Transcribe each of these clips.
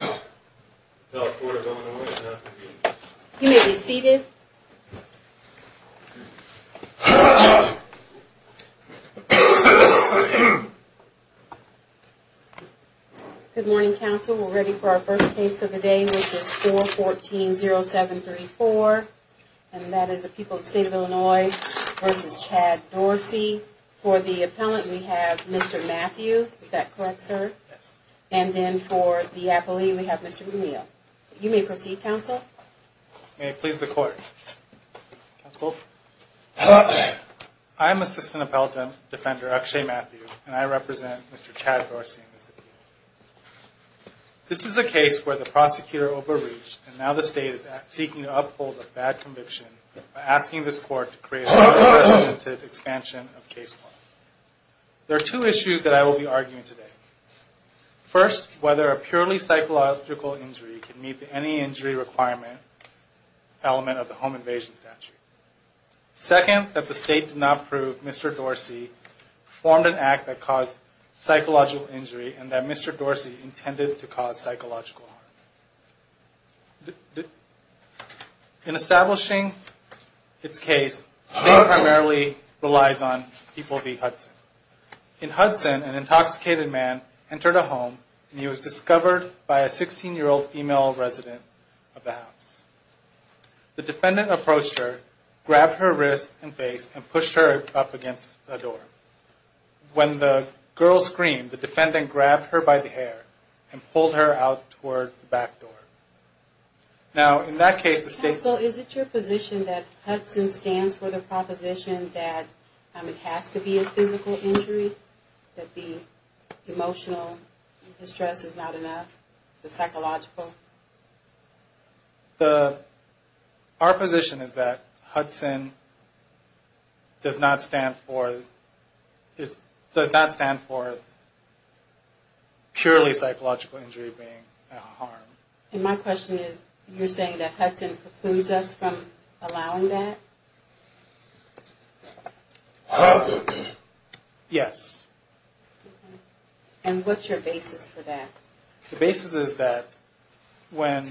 You may be seated. Good morning, Council. We're ready for our first case of the day, which is 414-0734, and that is the people of the State of Illinois v. Chad Dorsey. For the appellant, we have Mr. Matthew. Is that correct, sir? Yes. And then for the appellee, we have Mr. O'Neill. You may proceed, Council. May it please the Court. I am Assistant Appellant Defender Akshay Matthew, and I represent Mr. Chad Dorsey. This is a case where the prosecutor overreached, and now the State is seeking to uphold a bad conviction by asking this Court to create a more substantive expansion of case law. There are two issues that I will be arguing today. First, whether a purely psychological injury can meet any injury requirement element of the Home Invasion Statute. Second, that the State did not prove Mr. Dorsey formed an act that caused psychological injury and that Mr. Dorsey intended to cause psychological harm. In establishing its case, the State primarily relies on people v. Hudson. In Hudson, an intoxicated man entered a home, and he was discovered by a 16-year-old female resident of the house. The defendant approached her, grabbed her wrist and face, and pushed her up against a door. When the girl screamed, the defendant grabbed her by the hair and pulled her out toward the back door. Now, in that case, the State... Council, is it your position that Hudson stands for the proposition that it has to be a physical injury, that the emotional distress is not enough, the psychological? Our position is that Hudson does not stand for purely psychological injury being a harm. And my question is, you're saying that Hudson precludes us from allowing that? Yes. And what's your basis for that? The basis is that when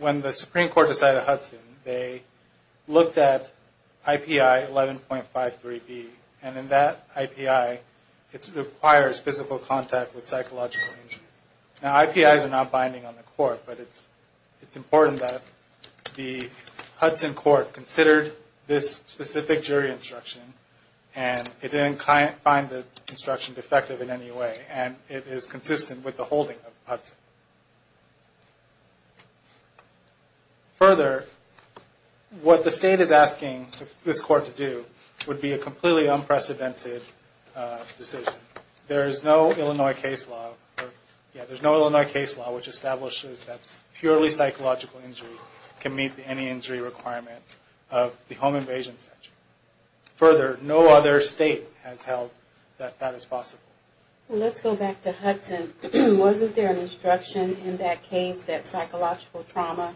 the Supreme Court decided Hudson, they looked at I.P.I. 11.53B, and in that I.P.I., it requires physical contact with psychological injury. Now, I.P.I.s are not binding on the Court, but it's important that the Hudson Court considered this specific jury instruction, and it didn't find the instruction defective in any way, and it is consistent with the holding of Hudson. Further, what the State is asking this Court to do would be a completely unprecedented decision. There is no Illinois case law which establishes that purely psychological injury can meet any injury requirement of the home invasion statute. Further, no other State has held that that is possible. Well, let's go back to Hudson. Wasn't there an instruction in that case that psychological trauma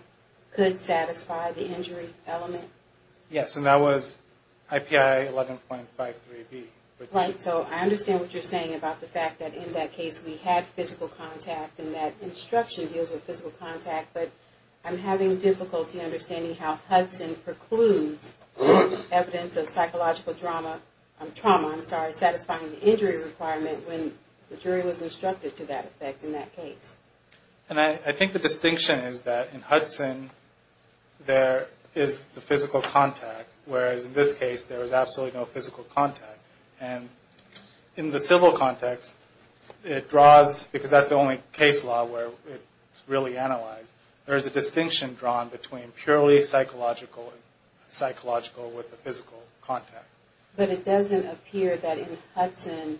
could satisfy the injury element? Yes, and that was I.P.I. 11.53B. Right, so I understand what you're saying about the fact that in that case we had physical contact, and that instruction deals with physical contact, but I'm having difficulty understanding how Hudson precludes evidence of psychological trauma, I'm sorry, satisfying the injury requirement when the jury was instructed to that effect in that case. And I think the distinction is that in Hudson there is the physical contact, whereas in this case there is absolutely no physical contact. And in the civil context, it draws, because that's the only case law where it's really analyzed, there is a distinction drawn between purely psychological and psychological with the physical contact. But it doesn't appear that in Hudson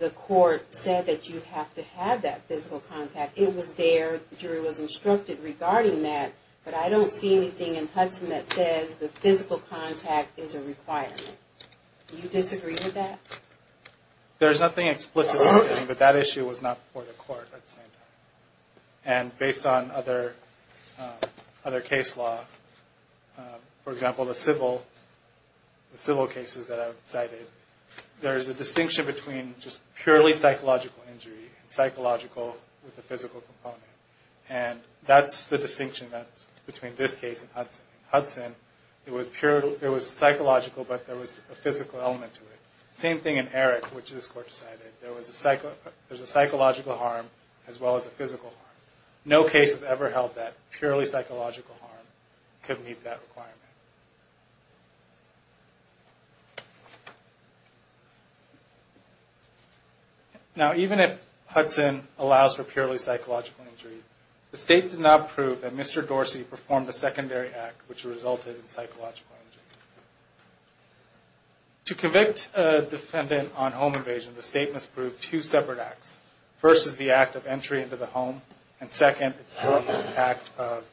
the Court said that you have to have that physical contact. It was there, the jury was instructed regarding that, but I don't see anything in Hudson that says the physical contact is a requirement. Do you disagree with that? There's nothing explicit, but that issue was not before the Court at the same time. And based on other case law, for example, the civil cases that I've cited, there is a distinction between just purely psychological injury and psychological with the physical component. And that's the distinction that's between this case and Hudson. In Hudson, it was psychological, but there was a physical element to it. Same thing in Eric, which this Court decided. There was a psychological harm as well as a physical harm. No case has ever held that purely psychological harm could meet that requirement. Now, even if Hudson allows for purely psychological injury, the State did not prove that Mr. Dorsey performed a secondary act which resulted in psychological injury. To convict a defendant on home invasion, the State must prove two separate acts. First is the act of entry into the home, and second is the act of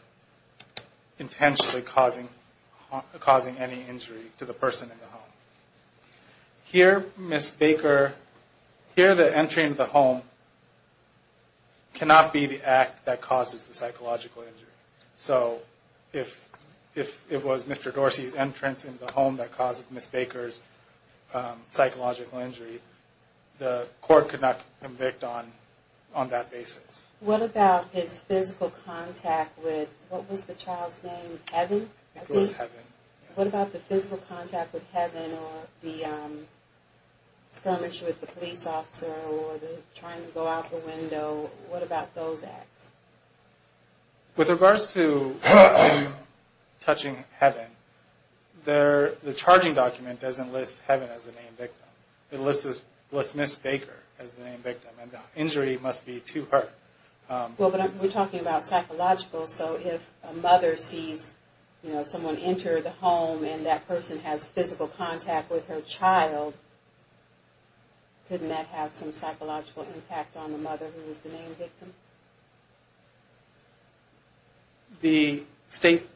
intentionally causing any injury to the person in the home. Here, Ms. Baker, here the entry into the home cannot be the act that causes the psychological injury. So if it was Mr. Dorsey's entrance into the home that caused Ms. Baker's psychological injury, the Court could not convict on that basis. What about his physical contact with, what was the child's name, Evan? It was Evan. What about the physical contact with Evan or the skirmish with the police officer or the trying to go out the window? What about those acts? With regards to touching Evan, the charging document doesn't list Evan as the main victim. It lists Ms. Baker as the main victim, and the injury must be to her. We're talking about psychological, so if a mother sees someone enter the home and that person has physical contact with her child, couldn't that have some psychological impact on the mother who was the main victim? The State,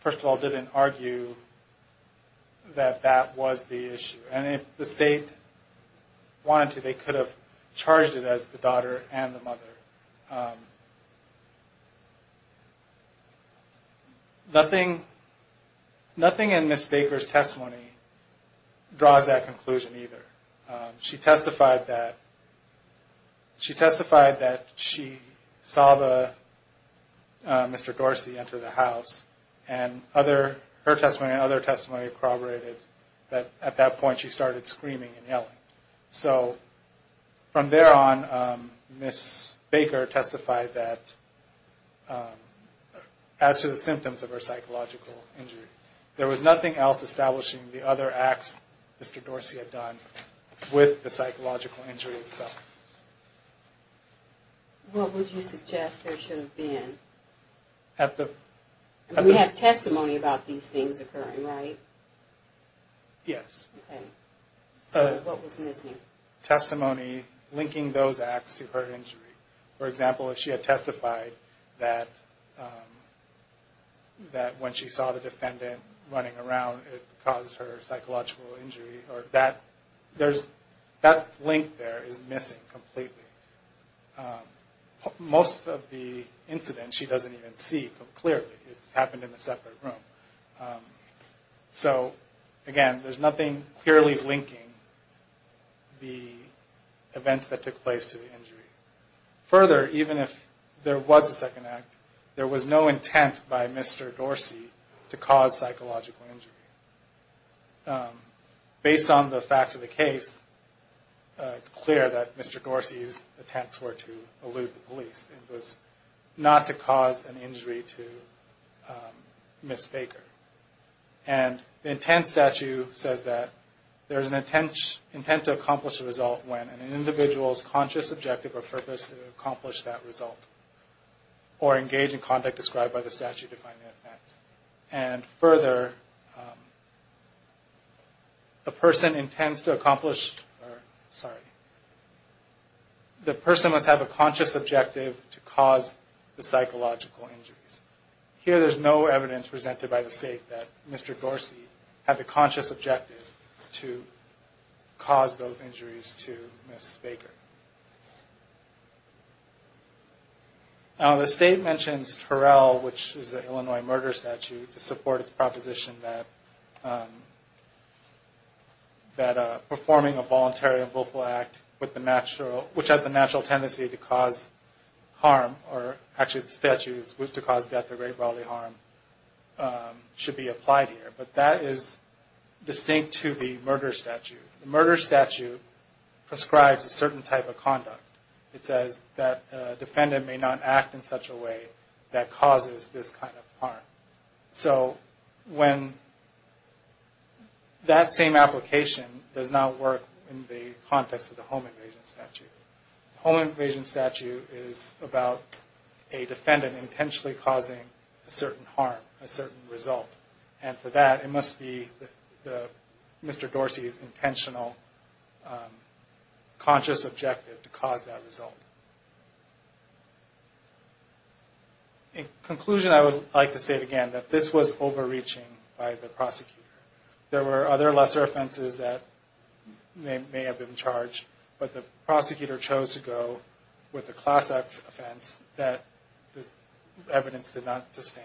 first of all, didn't argue that that was the issue. And if the State wanted to, they could have charged it as the daughter and the mother. Nothing in Ms. Baker's testimony draws that conclusion either. She testified that she saw Mr. Dorsey enter the house, and her testimony and other testimony corroborated that at that point she started screaming and yelling. So from there on, Ms. Baker testified that as to the symptoms of her psychological injury, there was nothing else establishing the other acts Mr. Dorsey had done with the psychological injury itself. What would you suggest there should have been? We have testimony about these things occurring, right? Yes. Okay. So what was missing? Testimony linking those acts to her injury. For example, if she had testified that when she saw the defendant running around it caused her psychological injury, that link there is missing completely. Most of the incidents she doesn't even see completely. It happened in a separate room. So again, there's nothing clearly linking the events that took place to the injury. Further, even if there was a second act, there was no intent by Mr. Dorsey to cause psychological injury. Based on the facts of the case, it's clear that Mr. Dorsey's attempts were to elude the police. It was not to cause an injury to Ms. Baker. And the intent statute says that there's an intent to accomplish a result when an individual's conscious objective or purpose to accomplish that result or engage in conduct described by the statute define the events. And further, the person must have a conscious objective to cause the psychological injuries. Here there's no evidence presented by the state that Mr. Dorsey had the conscious objective to cause those injuries to Ms. Baker. The state mentions Terrell, which is an Illinois murder statute, to support its proposition that performing a voluntary and willful act which has the natural tendency to cause harm, or actually the statute is to cause death or great bodily harm, should be applied here. But that is distinct to the murder statute. The murder statute prescribes a certain type of conduct. It says that a defendant may not act in such a way that causes this kind of harm. So when that same application does not work in the context of the home invasion statute, the home invasion statute is about a defendant intentionally causing a certain harm, a certain result. And for that, it must be Mr. Dorsey's intentional conscious objective to cause that result. In conclusion, I would like to say again that this was overreaching by the prosecutor. There were other lesser offenses that may have been charged, but the prosecutor chose to go with the class X offense that the evidence did not sustain.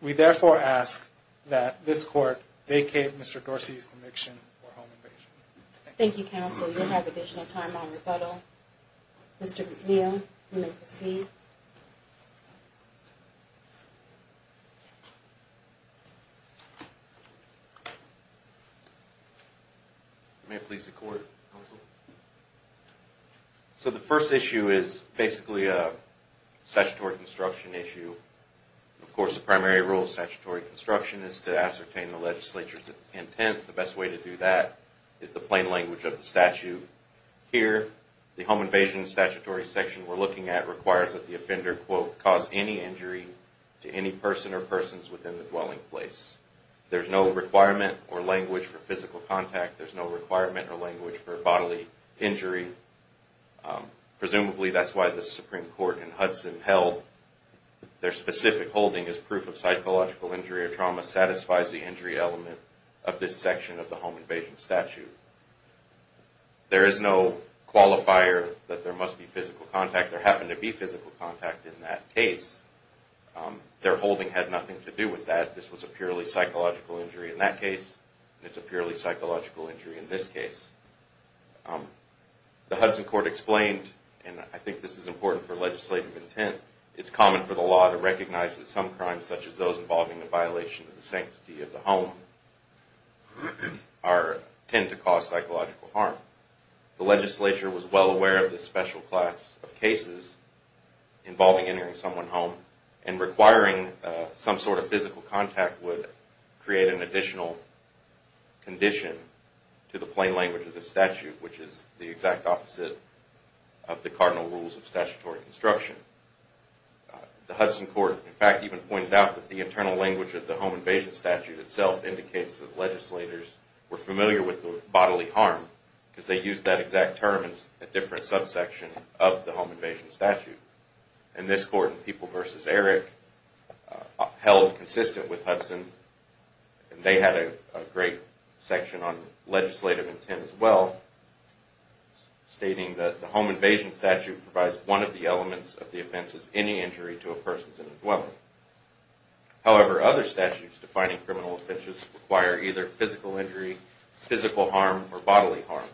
We therefore ask that this court vacate Mr. Dorsey's conviction for home invasion. Thank you, counsel. You'll have additional time on rebuttal. Mr. McNeil, you may proceed. May it please the court, counsel. So the first issue is basically a statutory construction issue. Of course, the primary rule of statutory construction is to ascertain the legislature's intent. The best way to do that is the plain language of the statute. Here, the home invasion statutory section we're looking at requires that the offender quote, cause any injury to any person or persons within the dwelling place. There's no requirement or language for physical contact. There's no requirement or language for bodily injury. Presumably that's why the Supreme Court in Hudson held their specific holding as proof of psychological injury or trauma satisfies the injury element of this section of the home invasion statute. There is no qualifier that there must be physical contact. There happened to be physical contact in that case. Their holding had nothing to do with that. This was a purely psychological injury in that case. It's a purely psychological injury in this case. The Hudson court explained, and I think this is important for legislative intent, it's common for the law to recognize that some crimes such as those involving a violation of the sanctity of the home tend to cause psychological harm. The legislature was well aware of this special class of cases involving entering someone's home and requiring some sort of physical contact would create an additional condition to the plain language of the statute which is the exact opposite of the cardinal rules of statutory construction. The Hudson court, in fact, even pointed out that the internal language of the home invasion statute itself indicates that legislators were familiar with the bodily harm because they used that exact term in a different subsection of the home invasion statute. And this court in People v. Erick held consistent with Hudson and they had a great section on legislative intent as well stating that the home invasion statute provides one of the elements of the offense as any injury to a person in the dwelling. However, other statutes defining criminal offenses require either physical injury, physical harm, or bodily harm.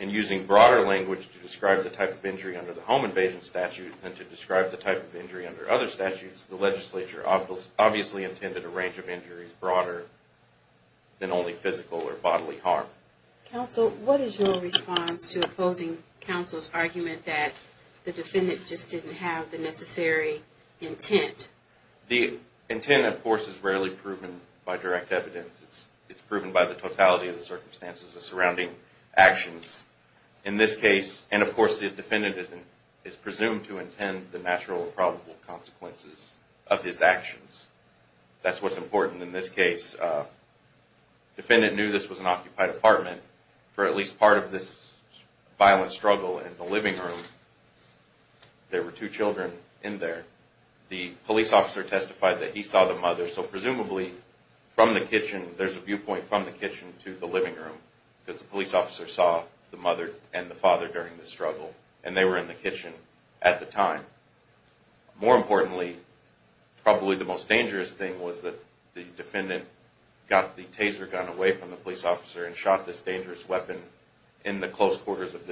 In using broader language to describe the type of injury under the home invasion statute than to describe the type of injury under other statutes, the legislature obviously intended a range of injuries broader than only physical or bodily harm. Counsel, what is your response to opposing counsel's argument that the defendant just didn't have the necessary intent? The intent, of course, is rarely proven by direct evidence. It's proven by the totality of the circumstances and surrounding actions. In this case, and of course, the defendant is presumed to intend the natural or probable consequences of his actions. That's what's important in this case. The defendant knew this was an occupied apartment for at least part of this violent struggle in the living room. There were two children in there. The police officer testified that he saw the mother, so presumably there's a viewpoint from the kitchen to the living room because the police officer saw the mother and the father during the struggle, and they were in the kitchen at the time. More importantly, probably the most dangerous thing was that the defendant got the taser gun away from the police officer and shot this dangerous weapon in the close quarters of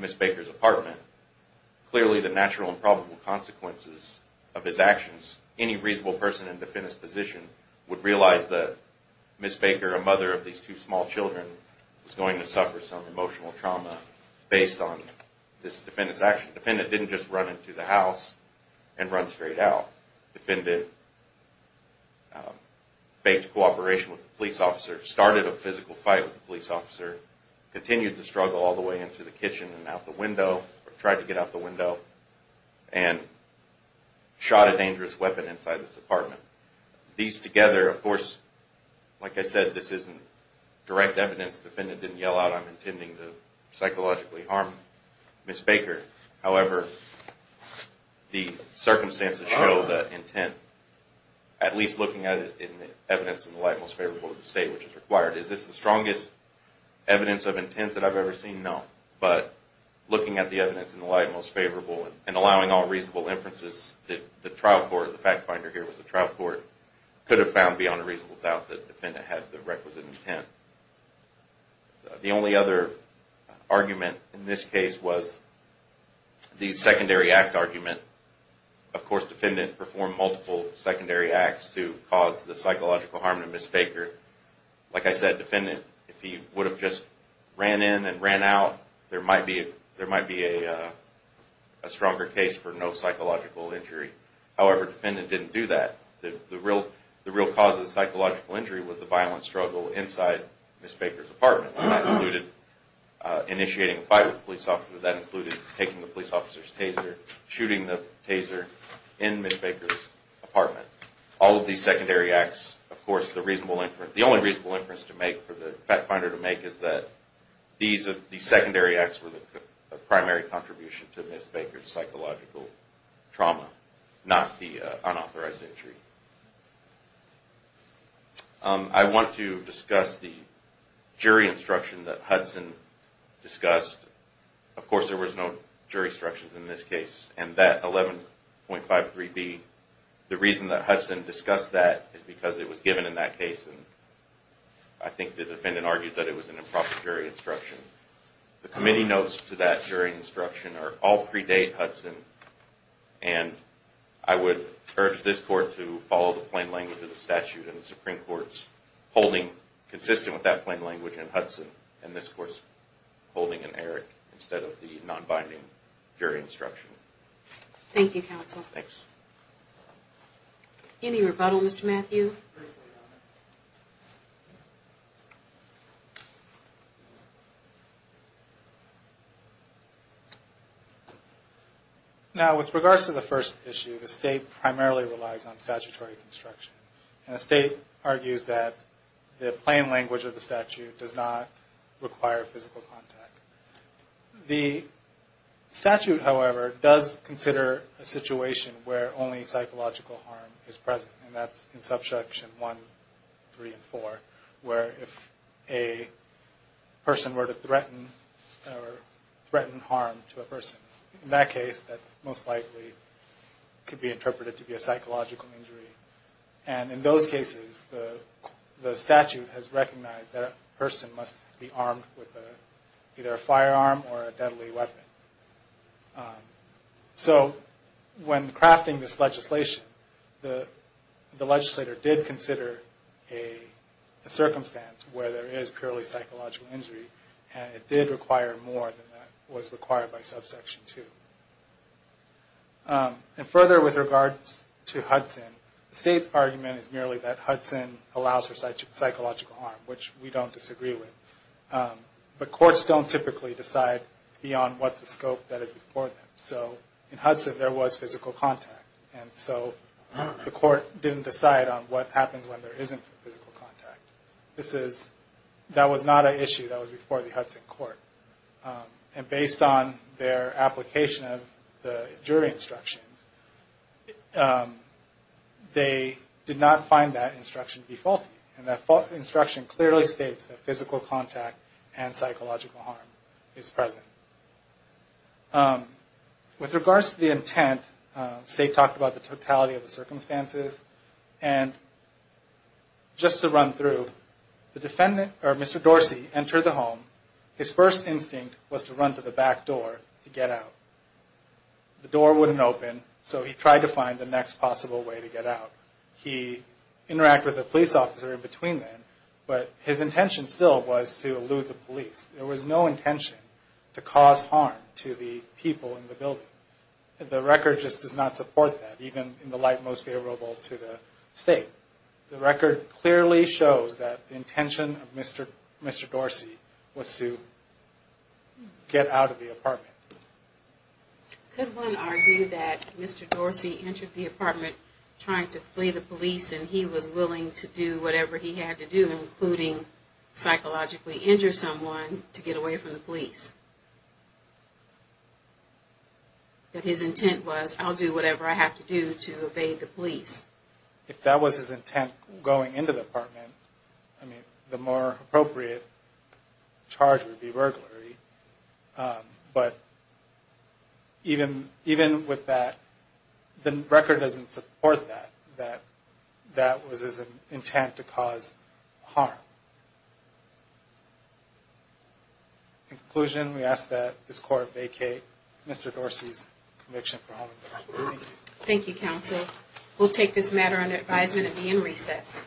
Ms. Baker's apartment. Clearly, the natural and probable consequences of his actions, any reasonable person in the defendant's position would realize that Ms. Baker, a mother of these two small children, was going to suffer some emotional trauma based on this defendant's action. The defendant didn't just run into the house and run straight out. The defendant faked cooperation with the police officer, started a physical fight with the police officer, continued the struggle all the way into the kitchen and out the window, or tried to get out the window, and shot a dangerous weapon inside this apartment. These together, of course, like I said, this isn't direct evidence. The defendant didn't yell out, I'm intending to psychologically harm Ms. Baker. However, the circumstances show that intent, at least looking at it in the evidence in the light most favorable to the state, which is required, is this the strongest evidence of intent that I've ever seen? No. But looking at the evidence in the light most favorable and allowing all reasonable inferences, the trial court, the fact finder here was the trial court, could have found beyond a reasonable doubt that the defendant had the requisite intent. The only other argument in this case was the secondary act argument. Of course, the defendant performed multiple secondary acts to cause the psychological harm to Ms. Baker. Like I said, the defendant, if he would have just ran in and ran out, there might be a stronger case for no psychological injury. However, the defendant didn't do that. The real cause of the psychological injury was the violent struggle inside Ms. Baker's apartment. That included initiating a fight with the police officer, that included taking the police officer's taser, shooting the taser in Ms. Baker's apartment. All of these secondary acts, of course, the only reasonable inference to make, for the fact finder to make, is that these secondary acts were the primary contribution to Ms. Baker's psychological trauma, not the unauthorized injury. I want to discuss the jury instruction that Hudson discussed. Of course, there was no jury instructions in this case, and that 11.53B, the reason that Hudson discussed that is because it was given in that case, and I think the defendant argued that it was an improper jury instruction. The committee notes to that jury instruction are all pre-date Hudson, and I would urge this Court to follow the plain language of the statute, and the Supreme Court's holding consistent with that plain language in Hudson, and this Court's holding in Eric, instead of the non-binding jury instruction. Thank you, Counsel. Any rebuttal, Mr. Matthew? Now, with regards to the first issue, the State primarily relies on statutory construction, and the State argues that the plain language of the statute does not require physical contact. The statute, however, does consider a situation where only psychological harm is present, and that's in Subsection 1, 3, and 4, where if a person were to threaten or threaten harm to a person, in that case, that most likely could be interpreted to be a psychological injury. And in those cases, the statute has recognized that a person must be armed with either a firearm or a deadly weapon. So when crafting this legislation, the legislator did consider a circumstance where there is purely psychological injury, and it did require more than that was required by Subsection 2. And further, with regards to Hudson, the State's argument is merely that Hudson allows for psychological harm, which we don't disagree with. But courts don't typically decide beyond what's the scope that is before them. So in Hudson, there was physical contact, and so the court didn't decide on what happens when there isn't physical contact. That was not an issue that was before the Hudson court. And based on their application of the jury instructions, they did not find that instruction to be faulty, and that instruction clearly states that physical contact and psychological harm is present. With regards to the intent, State talked about the totality of the circumstances, and just to run through, the defendant, or Mr. Dorsey, entered the home. His first instinct was to run to the back door to get out. The door wouldn't open, so he tried to find the next possible way to get out. He interacted with a police officer in between then, but his intention still was to elude the police. There was no intention to cause harm to the people in the building. The record just does not support that, even in the light most favorable to the State. The record clearly shows that the intention of Mr. Dorsey was to get out of the apartment. Could one argue that Mr. Dorsey entered the apartment trying to flee the police, and he was willing to do whatever he had to do, including psychologically injure someone, to get away from the police? That his intent was, I'll do whatever I have to do to evade the police. If that was his intent, going into the apartment, the more appropriate charge would be burglary. But even with that, the record doesn't support that, that that was his intent to cause harm. In conclusion, we ask that this Court vacate Mr. Dorsey's conviction for homicide. Thank you, Counsel. We'll take this matter under advisement and be in recess.